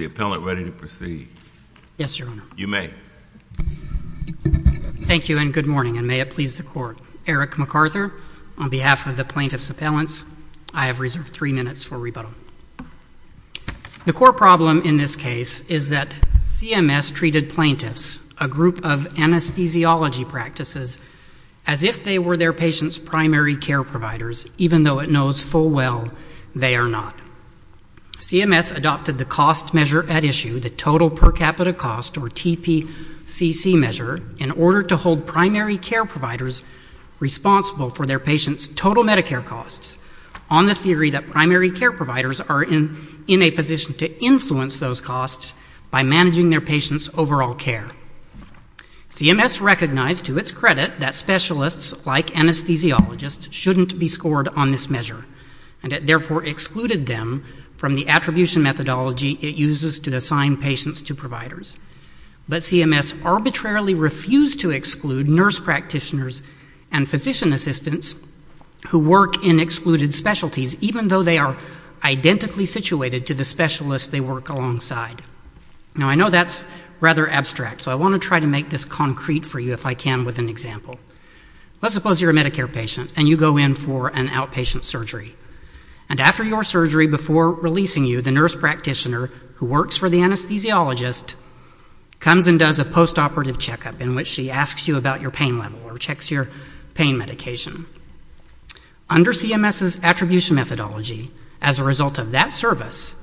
Appellant ready to proceed? Yes, Your Honor. You may. Thank you and good morning, and may it please the Court. Eric McArthur, on behalf of the Plaintiff's Appellants, I have reserved three minutes for rebuttal. The core problem in this case is that CMS treated plaintiffs, a group of anesthesiology practices, as if they were their patients' primary care providers, even though it knows full well they are not. CMS adopted the cost measure at issue, the total per capita cost, or TPCC measure, in order to hold primary care providers responsible for their patients' total Medicare costs on the theory that primary care providers are in a position to influence those costs by managing their patients' overall care. CMS recognized to its credit that specialists like anesthesiologists shouldn't be scored on this measure, and it therefore excluded them from the attribution methodology it uses to assign patients to providers. But CMS arbitrarily refused to exclude nurse practitioners and physician assistants who work in excluded specialties, even though they are identically situated to the specialists they work alongside. Now, I know that's rather abstract, so I want to try to make this concrete for you, if I can, with an example. Let's suppose you're a Medicare patient and you go in for an outpatient surgery. And after your surgery, before releasing you, the nurse practitioner, who works for the anesthesiologist, comes and does a postoperative checkup in which she asks you about your pain level or checks your pain medication. Under CMS's attribution methodology, as a result of that service,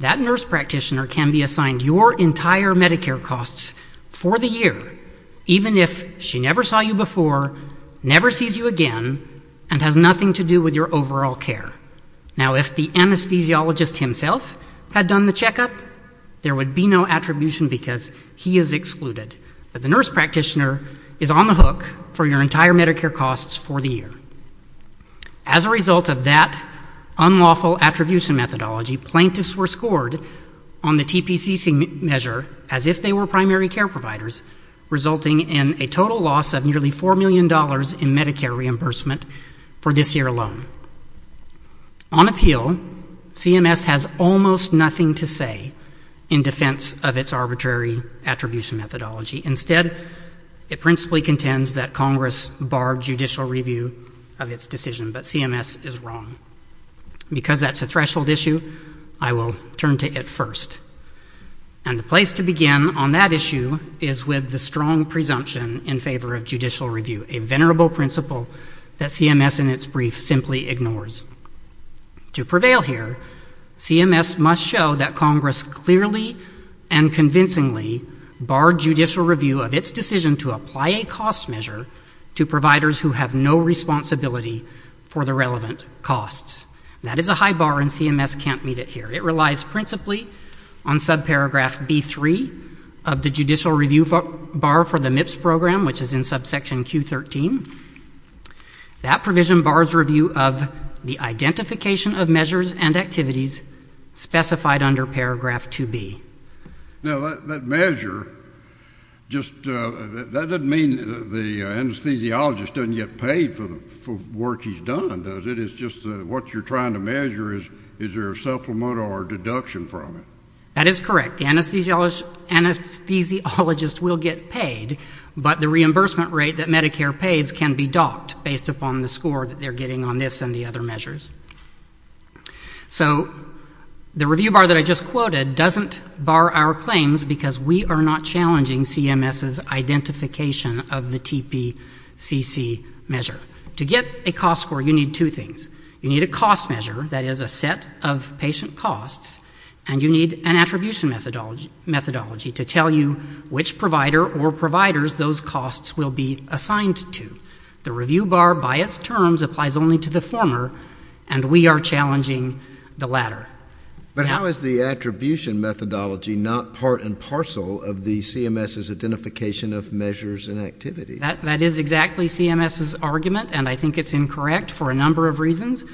that nurse practitioner can be assigned your entire Medicare costs for the year, even if she never saw you before, never sees you again, and has nothing to do with your overall care. Now, if the anesthesiologist himself had done the checkup, there would be no attribution because he is excluded. But the nurse practitioner is on the hook for your entire Medicare costs for the year. As a result of that unlawful attribution methodology, plaintiffs were scored on the TPCC measure as if they were primary care providers, resulting in a total loss of nearly $4 million in Medicare reimbursement for this year alone. On appeal, CMS has almost nothing to say in defense of its arbitrary attribution methodology. Instead, it principally contends that Congress bar judicial review of its decision. But CMS is wrong. Because that's a threshold issue, I will turn to it first. And the place to begin on that issue is with the strong presumption in favor of judicial review, a venerable principle that CMS in its brief simply ignores. To prevail here, CMS must show that Congress clearly and convincingly barred judicial review of its decision to apply a cost measure to providers who have no responsibility for the relevant costs. That is a high bar, and CMS can't meet it here. It relies principally on subparagraph B3 of the judicial review bar for the MIPS program, which is in subsection Q13. That provision bars review of the identification of measures and activities specified under paragraph 2B. Now, that measure, just that doesn't mean the anesthesiologist doesn't get paid for work he's done, does it? It's just what you're trying to measure is, is there a supplement or a deduction from it. That is correct. The anesthesiologist will get paid, but the reimbursement rate that Medicare pays can be docked based upon the score that they're getting on this and the other measures. So the review bar that I just quoted doesn't bar our claims because we are not challenging CMS's identification of the TPCC measure. To get a cost score, you need two things. You need a cost measure, that is a set of patient costs, and you need an attribution methodology to tell you which provider or providers those costs will be assigned to. The review bar by its terms applies only to the former, and we are challenging the latter. But how is the attribution methodology not part and parcel of the CMS's identification of measures and activities? That is exactly CMS's argument, and I think it's incorrect for a number of reasons.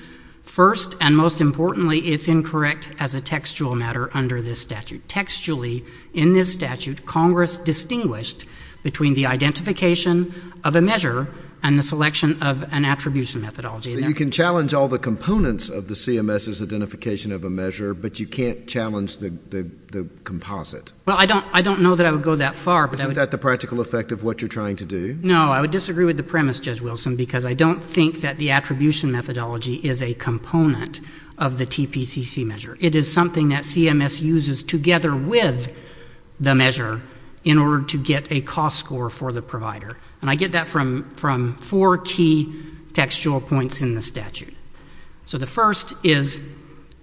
First and most importantly, it's incorrect as a textual matter under this statute. Textually, in this statute, Congress distinguished between the identification of a measure and the selection of an attribution methodology. You can challenge all the components of the CMS's identification of a measure, but you can't challenge the composite. Well, I don't know that I would go that far. Isn't that the practical effect of what you're trying to do? No, I would disagree with the premise, Judge Wilson, because I don't think that the attribution methodology is a component of the TPCC measure. It is something that CMS uses together with the measure in order to get a cost score for the provider, and I get that from four key textual points in the statute. So the first is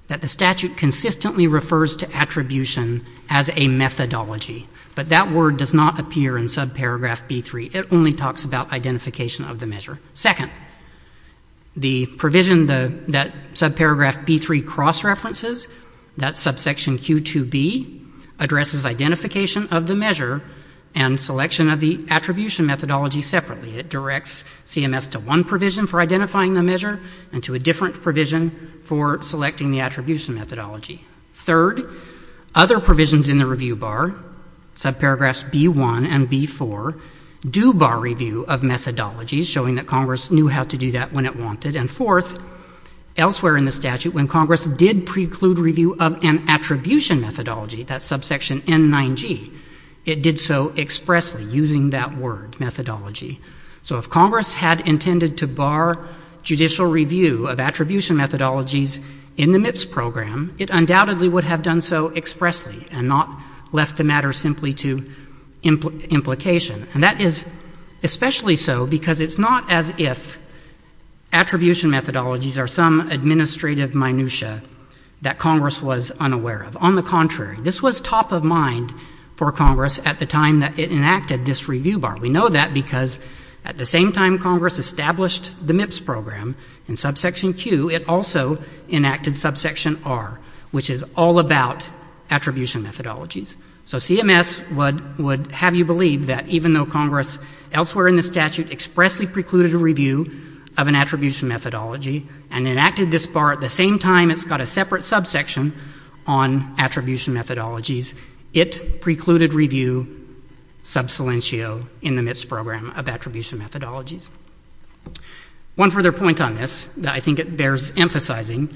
that the statute consistently refers to attribution as a methodology, but that word does not appear in subparagraph B3. It only talks about identification of the measure. Second, the provision that subparagraph B3 cross-references, that's subsection Q2B, addresses identification of the measure and selection of the attribution methodology separately. It directs CMS to one provision for identifying the measure and to a different provision for selecting the attribution methodology. Third, other provisions in the review bar, subparagraphs B1 and B4, do bar review of methodologies, showing that Congress knew how to do that when it wanted. And fourth, elsewhere in the statute, when Congress did preclude review of an attribution methodology, that's subsection N9G, it did so expressly, using that word, methodology. So if Congress had intended to bar judicial review of attribution methodologies in the MIPS program, it undoubtedly would have done so expressly and not left the matter simply to implication. And that is especially so because it's not as if attribution methodologies are some administrative minutia that Congress was unaware of. On the contrary, this was top of mind for Congress at the time that it enacted this review bar. We know that because at the same time Congress established the MIPS program in subsection Q, it also enacted subsection R, which is all about attribution methodologies. So CMS would have you believe that even though Congress, elsewhere in the statute, expressly precluded review of an attribution methodology and enacted this bar at the same time it's got a separate subsection on attribution methodologies, it precluded review sub silentio in the MIPS program of attribution methodologies. One further point on this that I think it bears emphasizing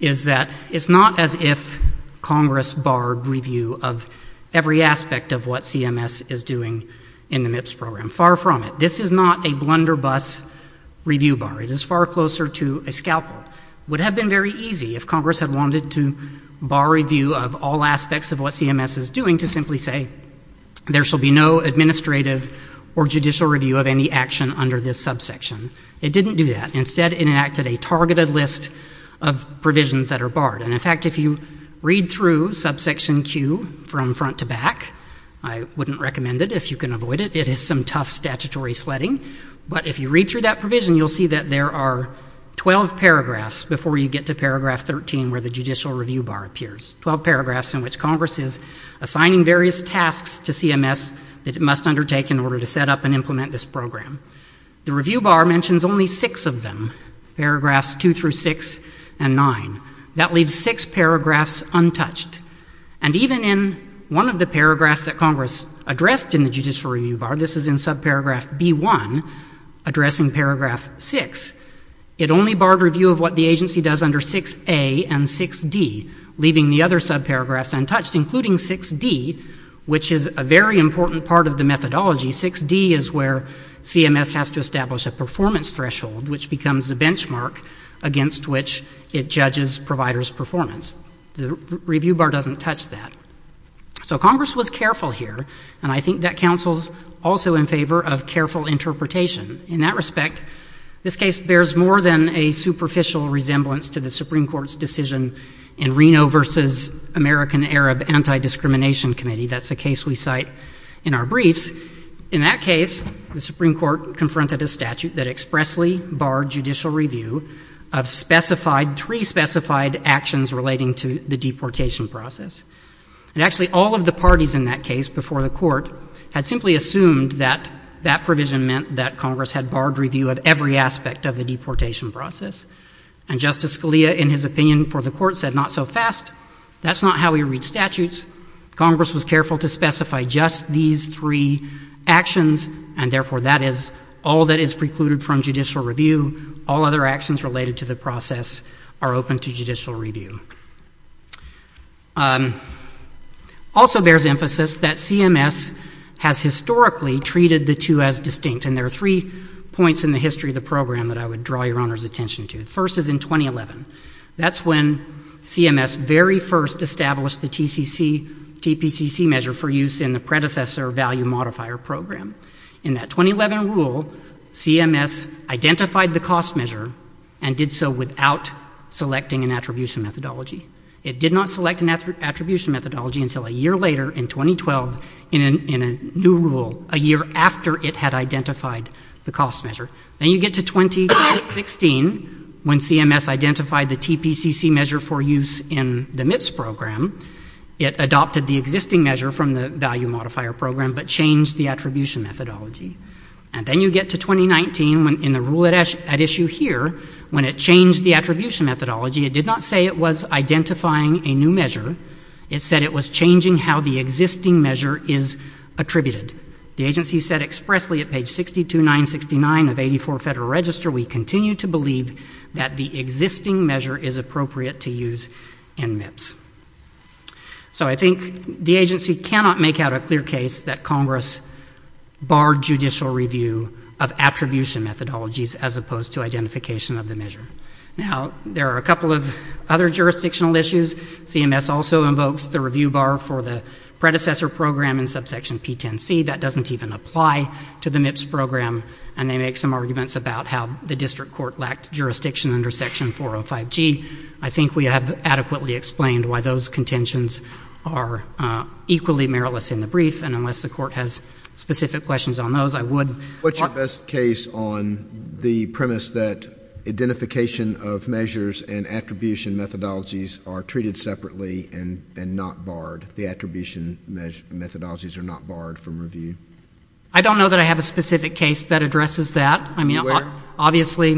is that it's not as if Congress barred review of every aspect of what CMS is doing in the MIPS program. Far from it. This is not a blunderbuss review bar. It is far closer to a scalpel. It would have been very easy if Congress had wanted to bar review of all aspects of what CMS is doing to simply say there shall be no administrative or judicial review of any action under this subsection. It didn't do that. Instead, it enacted a targeted list of provisions that are barred. And in fact, if you read through subsection Q from front to back, I wouldn't recommend it if you can avoid it. It is some tough statutory sledding. But if you read through that provision, you'll see that there are 12 paragraphs before you get to paragraph 13 where the judicial review bar gives tasks to CMS that it must undertake in order to set up and implement this program. The review bar mentions only six of them, paragraphs 2 through 6 and 9. That leaves six paragraphs untouched. And even in one of the paragraphs that Congress addressed in the judicial review bar, this is in subparagraph B1, addressing paragraph 6, it only barred review of what the agency does under 6A and 6D, leaving the other subparagraphs untouched, including 6D, which is a very important part of the methodology. 6D is where CMS has to establish a performance threshold, which becomes the benchmark against which it judges providers' performance. The review bar doesn't touch that. So Congress was careful here, and I think that counsels also in favor of careful interpretation. In that respect, this case bears more than a superficial resemblance to the Supreme Court's decision in Reno v. American-Arab Anti-Discrimination Committee. That's a case we cite in our briefs. In that case, the Supreme Court confronted a statute that expressly barred judicial review of specified, pre-specified actions relating to the deportation process. And actually, all of the parties in that case before the Court had simply assumed that that provision meant that Congress had barred review of every aspect of the deportation process. And Justice Scalia, in his opinion for the Court, said, not so fast. That's not how we read statutes. Congress was careful to specify just these three actions, and therefore, that is all that is precluded from judicial review. All other actions related to the process are open to judicial review. Also bears emphasis that CMS has historically treated the two as distinct, and there are three points in the history of the program that I would draw Your Honor's attention to. The first is in 2011. That's when CMS very first established the TCC-TPCC measure for use in the predecessor value modifier program. In that 2011 rule, CMS identified the cost measure and did so without selecting an attribution methodology. It did not select an attribution methodology until a year later, in 2012, in a new rule, a year after it had identified the cost measure. Then you get to 2016, when CMS identified the TPCC measure for use in the MIPS program. It adopted the existing measure from the value modifier program, but changed the attribution methodology. And then you get to 2019, in the rule at issue here, when it changed the attribution methodology. It did not say it was identifying a new measure. It said it was changing how the existing measure is attributed. The agency said expressly at page 62-969 of 84 Federal Register, we continue to believe that the existing measure is appropriate to use in MIPS. So I think the agency cannot make out a clear case that Congress barred judicial review of attribution methodologies as opposed to identification of the measure. Now, there are a couple of other jurisdictional issues. CMS also invokes the review bar for the predecessor program in subsection P10C. That doesn't even apply to the MIPS program. And they make some arguments about how the district court lacked jurisdiction under section 405G. I think we have adequately explained why those contentions are equally meritless in the brief. And unless the Court has specific questions on those, I would What's your best case on the premise that identification of measures and attribution methodologies are treated separately and not barred, the attribution methodologies are not barred from review? I don't know that I have a specific case that addresses that. I mean, obviously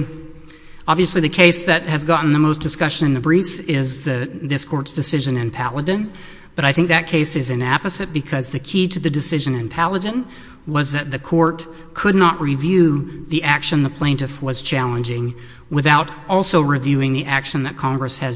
the case that has gotten the most discussion in the briefs is this Court's decision in Paladin. But I think that case is inapposite because the key to the decision in Paladin was that the Court could not review the action the plaintiff was challenging without also reviewing the action that Congress had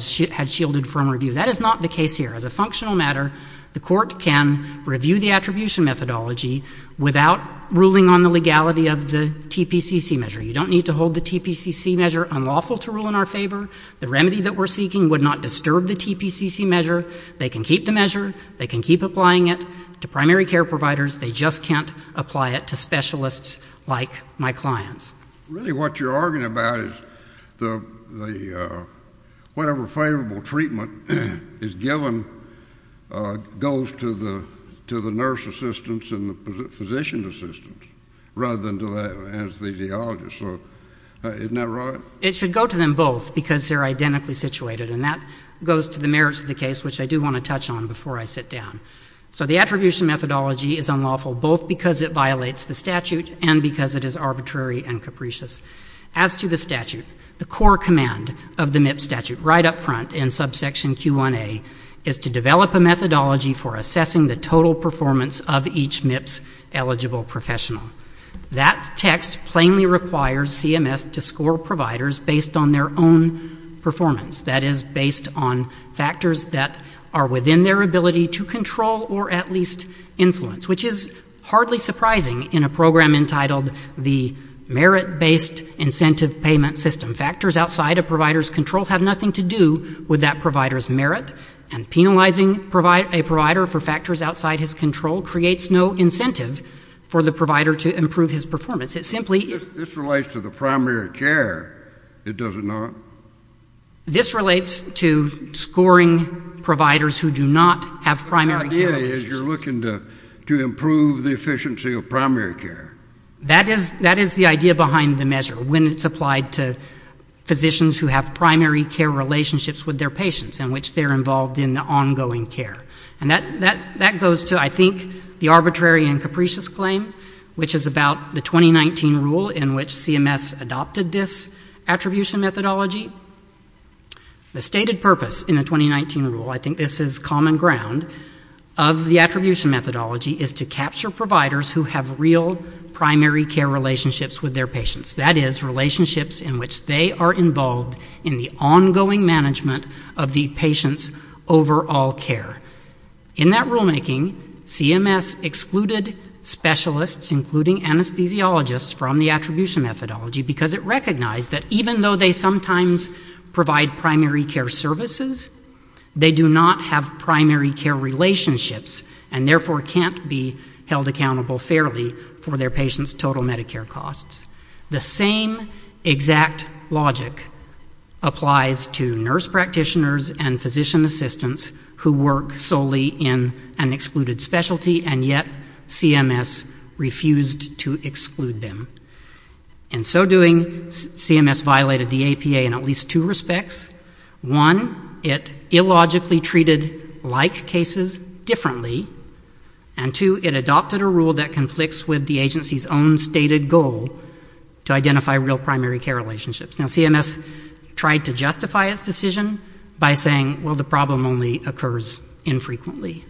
shielded from review. That is not the case here. As a functional matter, the Court can review the attribution methodology without ruling on the legality of the TPCC measure. You don't need to hold the TPCC measure unlawful to rule in our favor. The remedy that we're seeking would not disturb the TPCC measure. They can keep the measure. They can keep applying it to primary care providers. They just can't apply it to specialists like my clients. Really what you're arguing about is the whatever favorable treatment is given goes to the nurse assistants and the physician assistants rather than to the anesthesiologist. Isn't that right? It should go to them both because they're identically situated. And that goes to the patient if I sit down. So the attribution methodology is unlawful both because it violates the statute and because it is arbitrary and capricious. As to the statute, the core command of the MIPS statute right up front in subsection Q1A is to develop a methodology for assessing the total performance of each MIPS eligible professional. That text plainly requires CMS to score providers based on their own performance, that is, based on factors that are within their ability to control or at least influence, which is hardly surprising in a program entitled the Merit-Based Incentive Payment System. Factors outside a provider's control have nothing to do with that provider's merit. And penalizing a provider for factors outside his control creates no incentive for the provider to improve his performance. This relates to the primary care, does it not? This relates to scoring providers who do not have primary care. The idea is you're looking to improve the efficiency of primary care. That is the idea behind the measure when it's applied to physicians who have primary care relationships with their patients in which they're involved in the ongoing care. And that goes to, I think, the arbitrary and capricious claim, which is about the 2019 rule in which CMS adopted this attribution methodology. The stated purpose in the 2019 rule, I think this is common ground, of the attribution methodology is to capture providers who have real primary care relationships with their patients, that is, relationships in which they are involved in the ongoing management of the patient's overall care. In that rulemaking, CMS excluded specialists, including anesthesiologists, from the attribution methodology because it recognized that even though they sometimes provide primary care services, they do not have primary care relationships and, therefore, can't be held accountable fairly for their patients' total Medicare costs. The same exact logic applies to nurse practitioners and physician assistants who work solely in an excluded specialty, and yet CMS refused to exclude them. In so doing, CMS violated the APA in at least two respects. One, it illogically treated like cases differently, and two, it adopted a rule that conflicts with the agency's own stated goal to identify real primary care relationships. Now, CMS tried to justify its decision by saying, well, the problem only occurs infrequently,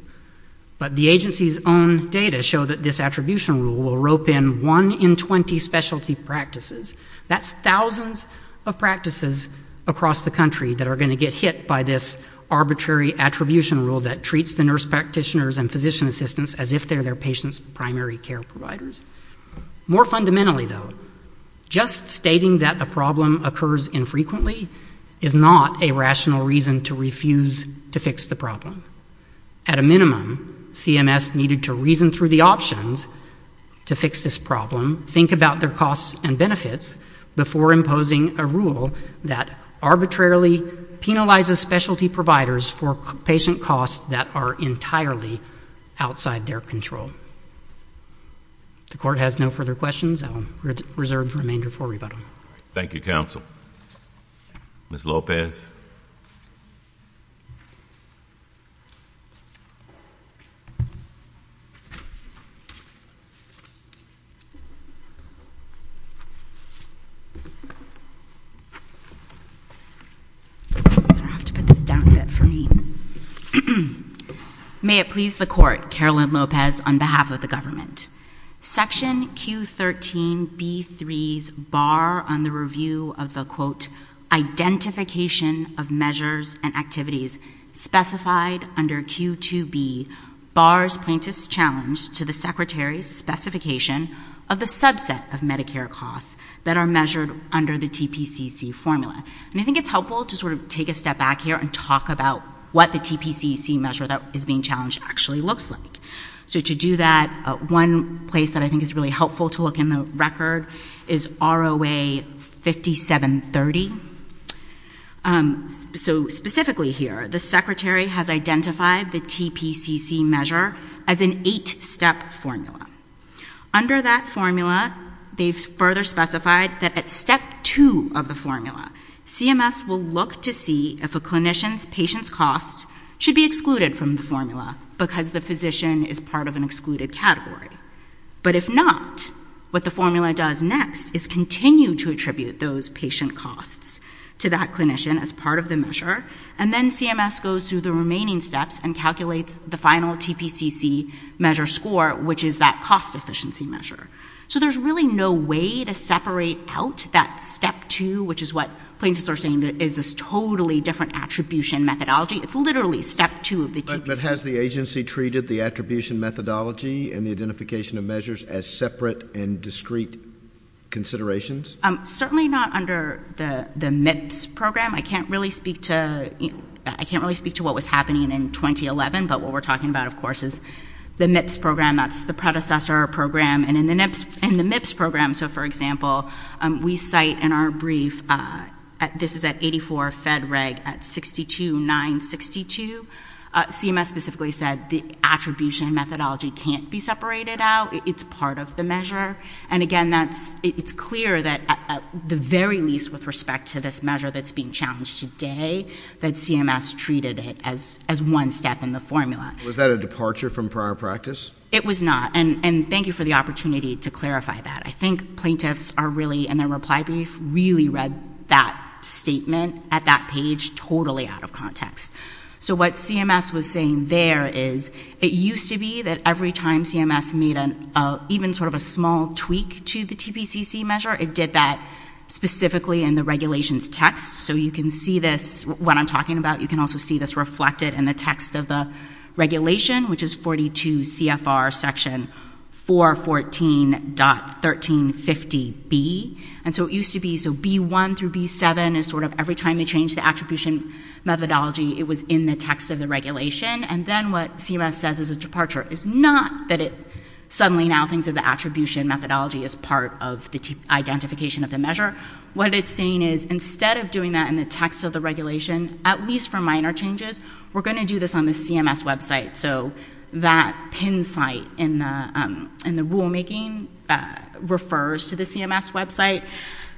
but the agency's own data show that this attribution rule will rope in one in 20 specialty practices. That's thousands of practices across the country that are going to get hit by this arbitrary attribution rule that treats the nurse practitioners and physician assistants as if they're their patients' primary care providers. More fundamentally, though, just stating that a problem occurs infrequently is not a rational reason to refuse to fix the problem. At a minimum, CMS needed to reason through the options to fix this problem, think about their costs and benefits before imposing a rule that arbitrarily penalizes specialty providers for patient costs that are entirely outside their control. The Court has no further questions. I'll reserve the remainder for rebuttal. Thank you, Counsel. Ms. Lopez. I'm going to have to put this down a bit for me. May it please the Court, Carolyn Lopez, on behalf of the government. Section Q13B3's bar on the review of the, quote, identification of measures and activities specified under Q2B bars plaintiffs' challenge to the Secretary's specification of the subset of Medicare costs that are measured under the TPCC formula. And I think it's helpful to sort of take a step back here and talk about what the TPCC measure that is being challenged actually looks like. So to do that, one place that I think is really helpful to look in the record is ROA 5730. So specifically here, the Secretary has identified the TPCC measure as an eight-step formula. Under that formula, they've further specified that at step two of the formula, CMS will look to see if a clinician's patient's costs should be excluded from the formula because the physician is part of an excluded category. But if not, what the formula does next is continue to attribute those patient costs to that clinician as part of the measure. And then CMS goes through the remaining steps and calculates the final TPCC measure score, which is that cost efficiency measure. So there's really no way to separate out that step two, which is what plaintiffs are saying is this totally different attribution methodology. It's literally step two of the TPCC. But has the agency treated the attribution methodology and the identification of measures as separate and discrete considerations? Certainly not under the MIPS program. I can't really speak to what was happening in 2011, but what we're talking about, of course, is the MIPS program. That's the predecessor program. And in the MIPS program, so for example, we cite in our brief, this is at 84 Fed Reg at 62.9.62. CMS specifically said the attribution methodology can't be separated out. It's part of the measure. And again, it's clear that at the very least with respect to this measure that's being challenged today, that CMS treated it as one step in the formula. Was that a departure from prior practice? It was not. And thank you for the opportunity to clarify that. I think plaintiffs are really, in their reply brief, really read that statement at that page totally out of context. So what CMS was saying there is it used to be that every time CMS made an even sort of a small tweak to the TPCC measure, it did that specifically in the regulations text. So you can see this, what I'm talking about, you can also see this reflected in the text of the regulation, which is 42 CFR section 414.1350B. And so it used to be, so B1 through B7 is sort of every time they changed the attribution methodology, it was in the text of the regulation. And then what CMS says is a departure. It's not that it suddenly now thinks of the attribution methodology as part of the identification of the measure. What it's saying is instead of doing that in the text of the regulation, at least for minor changes, we're going to do this on the CMS website. So that pin site in the rulemaking refers to the CMS website.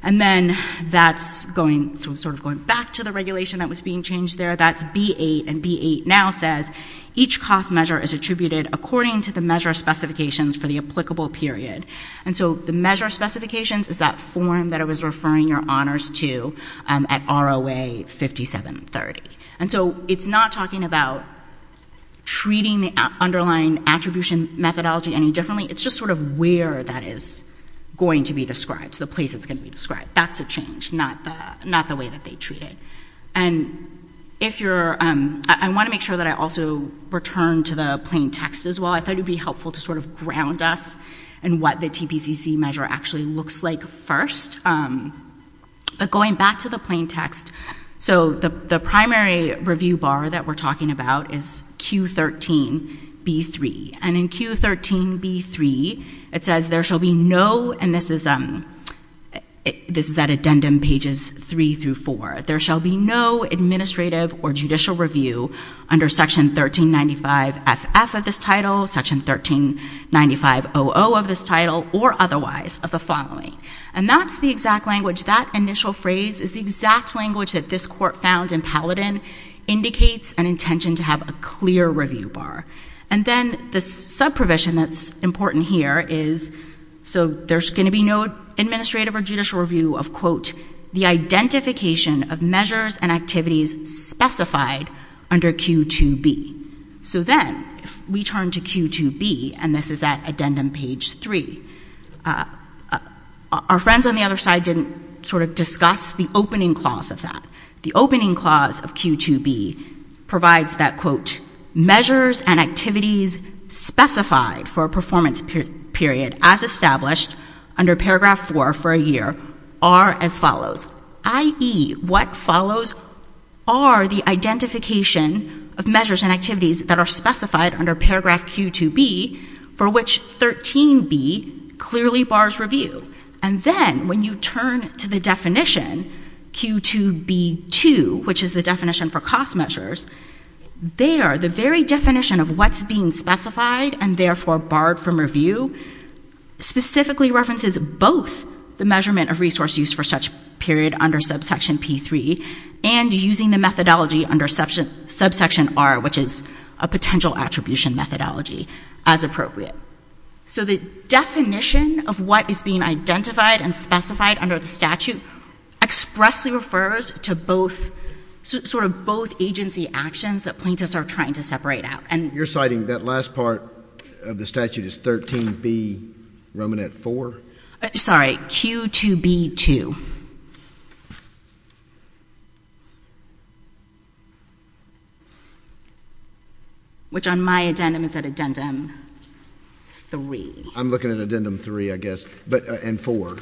And then that's going, sort of going back to the regulation that was being changed there, that's B8. And B8 now says each cost measure is attributed according to the measure specifications for the applicable period. And so the measure specifications is that form that it was referring your honors to at ROA 5730. And so it's not talking about treating the underlying attribution methodology any differently. It's just sort of where that is going to be described, the place it's going to be described. That's the change, not the way that they treat it. And if you're, I want to make sure that I also return to the plain text as well. I thought it'd helpful to sort of ground us in what the TPCC measure actually looks like first. But going back to the plain text, so the primary review bar that we're talking about is Q13B3. And in Q13B3, it says there shall be no, and this is that addendum pages 3 through 4, there shall be no administrative or judicial review under section 1395FF of this title, section 1395OO of this title, or otherwise of the following. And that's the exact language, that initial phrase is the exact language that this court found in Paladin indicates an intention to have a clear review bar. And then the subprovision that's important here is, so there's going to be no administrative or judicial review of, quote, the identification of measures and activities specified under Q2B. So then if we turn to Q2B, and this is that addendum page 3, our friends on the other side didn't sort of discuss the opening clause of that. The opening clause of Q2B provides that, quote, measures and activities specified for a performance period as established under paragraph 4 for a year are as follows, i.e., what follows are the identification of measures and activities that are specified under paragraph Q2B for which 13B clearly bars review. And then when you turn to the definition, Q2B2, which is the definition for cost measures, there, the very definition of what's being specified and therefore barred from review specifically references both the measurement of resource use for such period under subsection P3 and using the methodology under subsection R, which is a potential attribution methodology, as appropriate. So the definition of what is being identified and specified under the expressly refers to both, sort of both agency actions that plaintiffs are trying to separate out. And you're citing that last part of the statute is 13B, Romanet 4? Sorry, Q2B2. Which on my addendum is at addendum 3. I'm looking at addendum 3, I guess, but, and 4.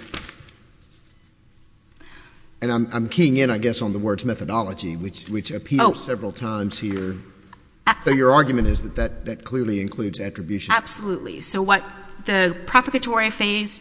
And I'm keying in, I guess, on the words methodology, which appears several times here. So your argument is that that clearly includes attribution? Absolutely. So what the propagatory phrase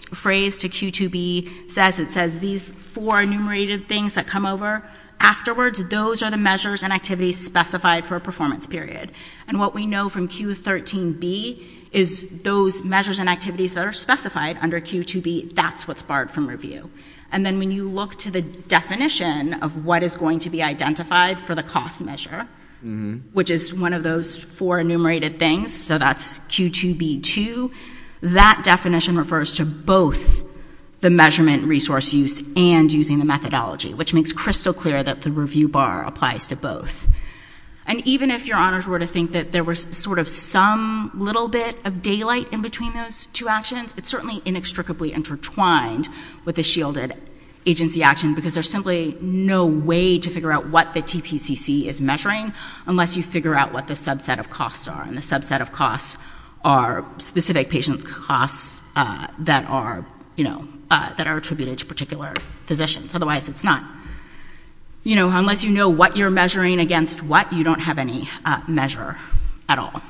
to Q2B says, it says these four enumerated things that come over afterwards, those are the measures and activities specified for a performance period. And what we know from Q13B is those measures and activities that are specified under Q2B, that's what's barred from review. And then when you look to the definition of what is going to be identified for the cost measure, which is one of those four enumerated things, so that's Q2B2, that definition refers to both the measurement resource use and using the methodology, which makes crystal clear that the review bar applies to both. And even if your honors were to think that there was sort of some little bit of daylight in between those two actions, it's certainly inextricably intertwined with the shielded agency action because there's simply no way to figure out what the TPCC is measuring unless you figure out what the subset of costs are. And the subset of costs are specific patient costs that are, you know, that are attributed to particular physicians. Otherwise, it's not, you know, unless you know what you're measuring against what, you don't have any measure at all.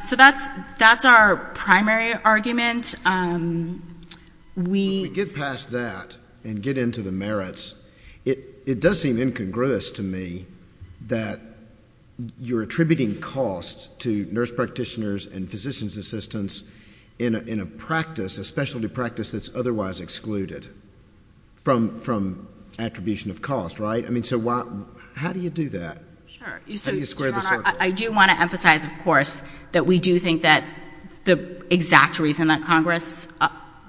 So that's our primary argument. When we get past that and get into the merits, it does seem incongruous to me that you're attributing costs to nurse practitioners and physician's assistants in a practice, a specialty practice that's otherwise excluded from attribution of cost, right? I mean, how do you do that? How do you square the circle? I do want to emphasize, of course, that we do think that the exact reason that Congress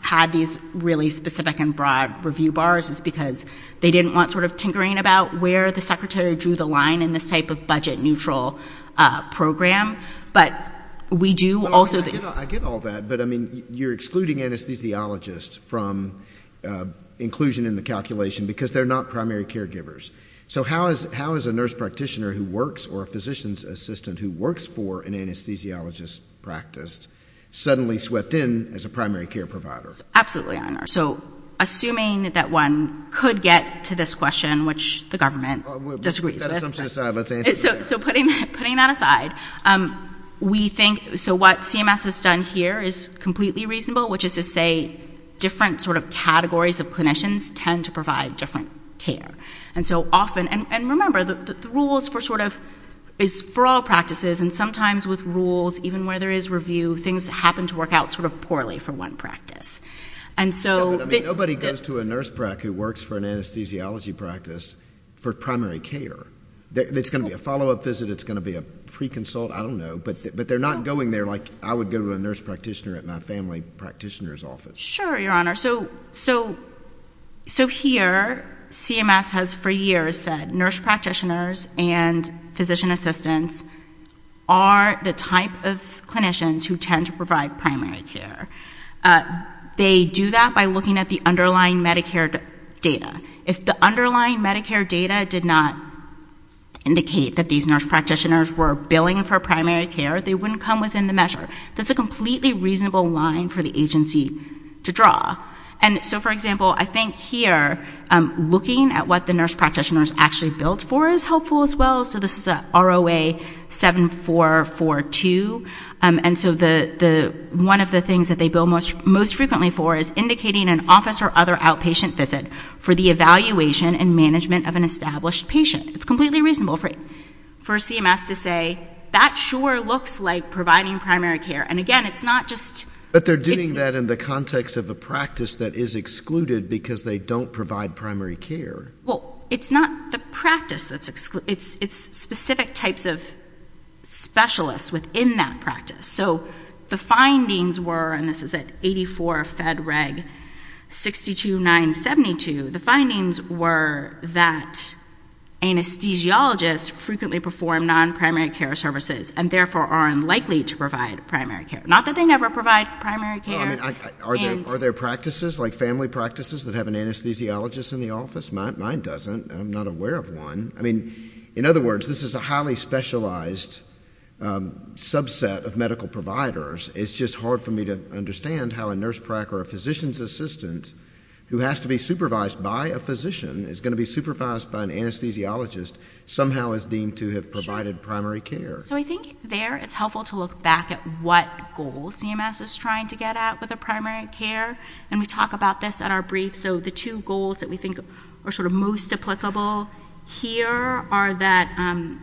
had these really specific and broad review bars is because they didn't want sort of tinkering about where the secretary drew the line in this type of budget neutral program. But we do also I get all that. But I mean, you're excluding anesthesiologists from inclusion in the So how is how is a nurse practitioner who works or a physician's assistant who works for an anesthesiologist practice suddenly swept in as a primary care provider? Absolutely. So assuming that one could get to this question, which the government disagrees, so putting putting that aside, we think so what CMS has done here is completely reasonable, which is to say, different sort of categories of clinicians tend to provide different care. And so often and remember, the rules for sort of is for all practices. And sometimes with rules, even where there is review, things happen to work out sort of poorly for one practice. And so nobody goes to a nurse who works for an anesthesiology practice for primary care. It's going to be a follow up visit. It's going to be a pre consult. I don't know. But they're not going there like I would go to a nurse practitioner at my family practitioner's Sure, Your Honor. So so so here CMS has for years said nurse practitioners and physician assistants are the type of clinicians who tend to provide primary care. They do that by looking at the underlying Medicare data. If the underlying Medicare data did not indicate that these nurse practitioners were billing for primary care, they wouldn't come measure. That's a completely reasonable line for the agency to draw. And so, for example, I think here, looking at what the nurse practitioners actually billed for is helpful as well. So this is a ROA 7442. And so the one of the things that they bill most frequently for is indicating an office or other outpatient visit for the evaluation and management of an established patient. It's completely reasonable for for CMS to say that sure looks like providing primary care. And again, it's not just that they're doing that in the context of a practice that is excluded because they don't provide primary care. Well, it's not the practice that's excluded. It's specific types of specialists within that practice. So the findings were and this is at 84 Fed Reg 62972. The findings were that anesthesiologists frequently perform non primary care services and therefore are unlikely to provide primary care. Not that they never provide primary care. Are there practices like family practices that have an anesthesiologist in the office? Mine doesn't. I'm not aware of one. I mean, in other words, this is a highly specialized subset of medical providers. It's just hard for me to understand how a nurse prac or a physician's assistant who has to be supervised by a physician is going to be I think there it's helpful to look back at what goals CMS is trying to get at with a primary care. And we talk about this at our brief. So the two goals that we think are sort of most applicable here are that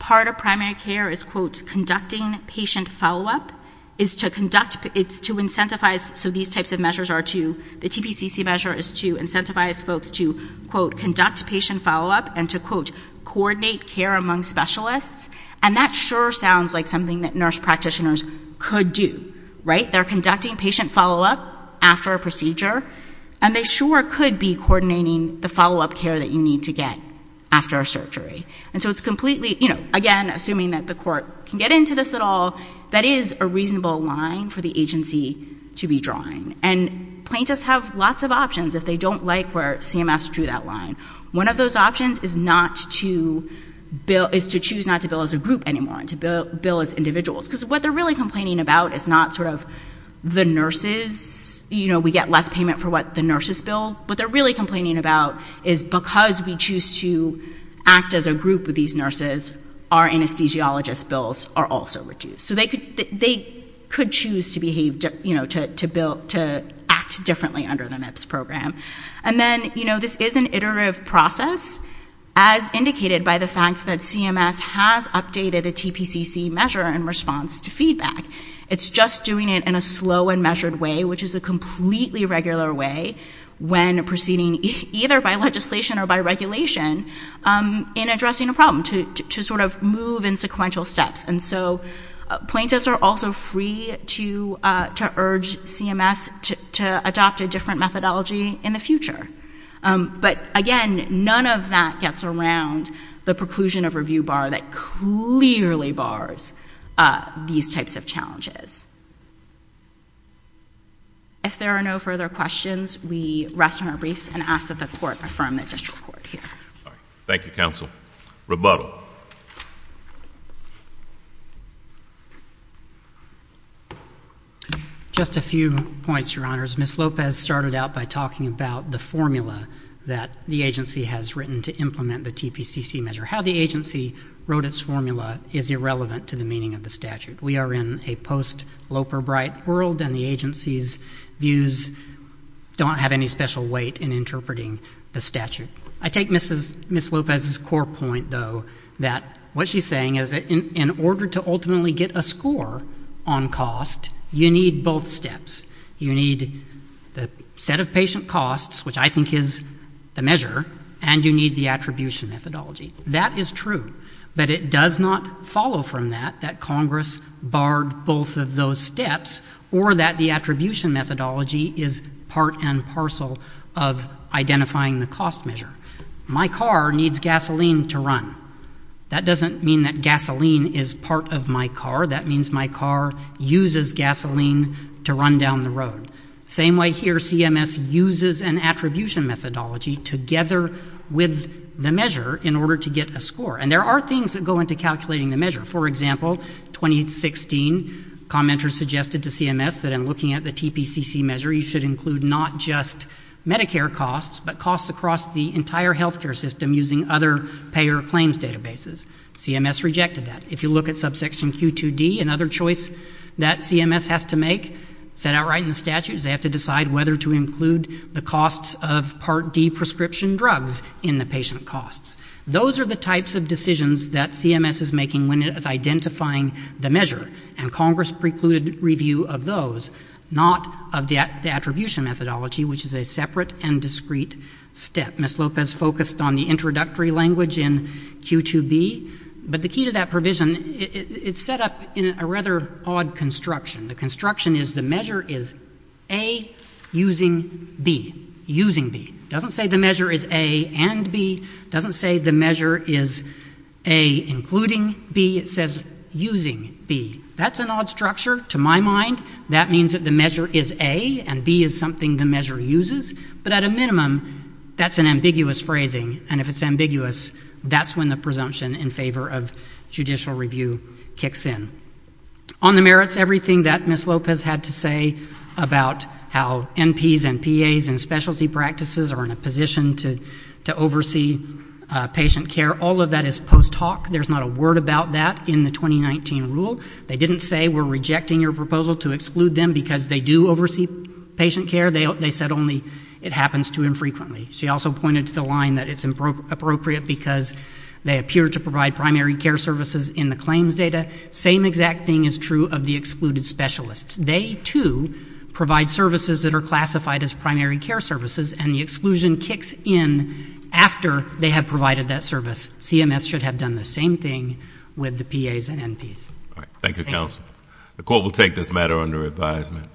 part of primary care is quote conducting patient follow-up. It's to incentivize so these types of measures are to the TPCC measure is to incentivize folks to quote conduct patient follow-up and to quote coordinate care among specialists. And that sure sounds like something that nurse practitioners could do. Right? They're conducting patient follow-up after a procedure and they sure could be coordinating the follow-up care that you need to get after a surgery. And so it's completely, you know, again, assuming that the court can get into this at all, that is a reasonable line for the agency to be drawing. And plaintiffs have lots of options if they don't like where CMS drew that line. One of those options is not to bill is to choose not to bill as a group anymore and to bill as individuals. Because what they're really complaining about is not sort of the nurses, you know, we get less payment for what the nurses bill. What they're really complaining about is because we choose to act as a group with these nurses, our anesthesiologist bills are also reduced. So they could choose to behave, you know, to act differently under the MIPS program. And then, you know, this is an iterative process as indicated by the fact that CMS has updated the TPCC measure in response to feedback. It's just doing it in a slow and measured way, which is a completely regular way when proceeding either by legislation or by regulation in addressing a problem to sort of move in sequential steps. And so plaintiffs are also free to urge CMS to adopt a different methodology in the future. But again, none of that gets around the preclusion of review bar that clearly bars these types of challenges. If there are no further questions, we rest on our briefs and ask that the court affirm the district court here. Thank you, counsel. Rebuttal. Just a few points, Your Honors. Ms. Lopez started out by talking about the formula that the agency has written to implement the TPCC measure. How the agency wrote its formula is irrelevant to the meaning of the statute. We are in a post-Loper Bright world, and the agency's views don't have any special weight in interpreting the statute. I take Ms. Lopez's core point, though, that what in order to ultimately get a score on cost, you need both steps. You need the set of patient costs, which I think is the measure, and you need the attribution methodology. That is true. But it does not follow from that that Congress barred both of those steps or that the attribution methodology is part and parcel of identifying the cost measure. My car needs gasoline to run. That doesn't mean that gasoline is part of my car. That means my car uses gasoline to run down the road. Same way here, CMS uses an attribution methodology together with the measure in order to get a score. And there are things that go into calculating the measure. For example, 2016, commenters suggested to CMS that in looking at the TPCC measure, you should include not just Medicare costs, but costs across the entire healthcare system using other payer claims databases. CMS rejected that. If you look at subsection Q2D, another choice that CMS has to make, set outright in the statute, is they have to decide whether to include the costs of Part D prescription drugs in the patient costs. Those are the types of decisions that CMS is making when it is identifying the measure, and Congress precluded review of those, not of the attribution methodology, which is a separate and discrete step. Ms. Lopez focused on the introductory language in Q2B. But the key to that provision, it's set up in a rather odd construction. The construction is the measure is A using B. Using B. It doesn't say the measure is A and B. It doesn't say the measure is A including B. It says using B. That's an odd structure to my mind. That means the measure is A and B is something the measure uses. But at a minimum, that's an ambiguous phrasing. If it's ambiguous, that's when the presumption in favor of judicial review kicks in. On the merits, everything that Ms. Lopez had to say about how NPs and PAs and specialty practices are in a position to oversee patient care, all of that is post hoc. There's not a word about that in the 2019 rule. They didn't say we're rejecting your proposal to exclude them because they do oversee patient care. They said only it happens too infrequently. She also pointed to the line that it's appropriate because they appear to provide primary care services in the claims data. Same exact thing is true of the excluded specialists. They, too, provide services that are classified as primary care services, and the exclusion kicks in after they have provided that service. CMS should have done the same thing with the PAs and NPs. All right. Thank you, counsel. The court will take this matter under advisement.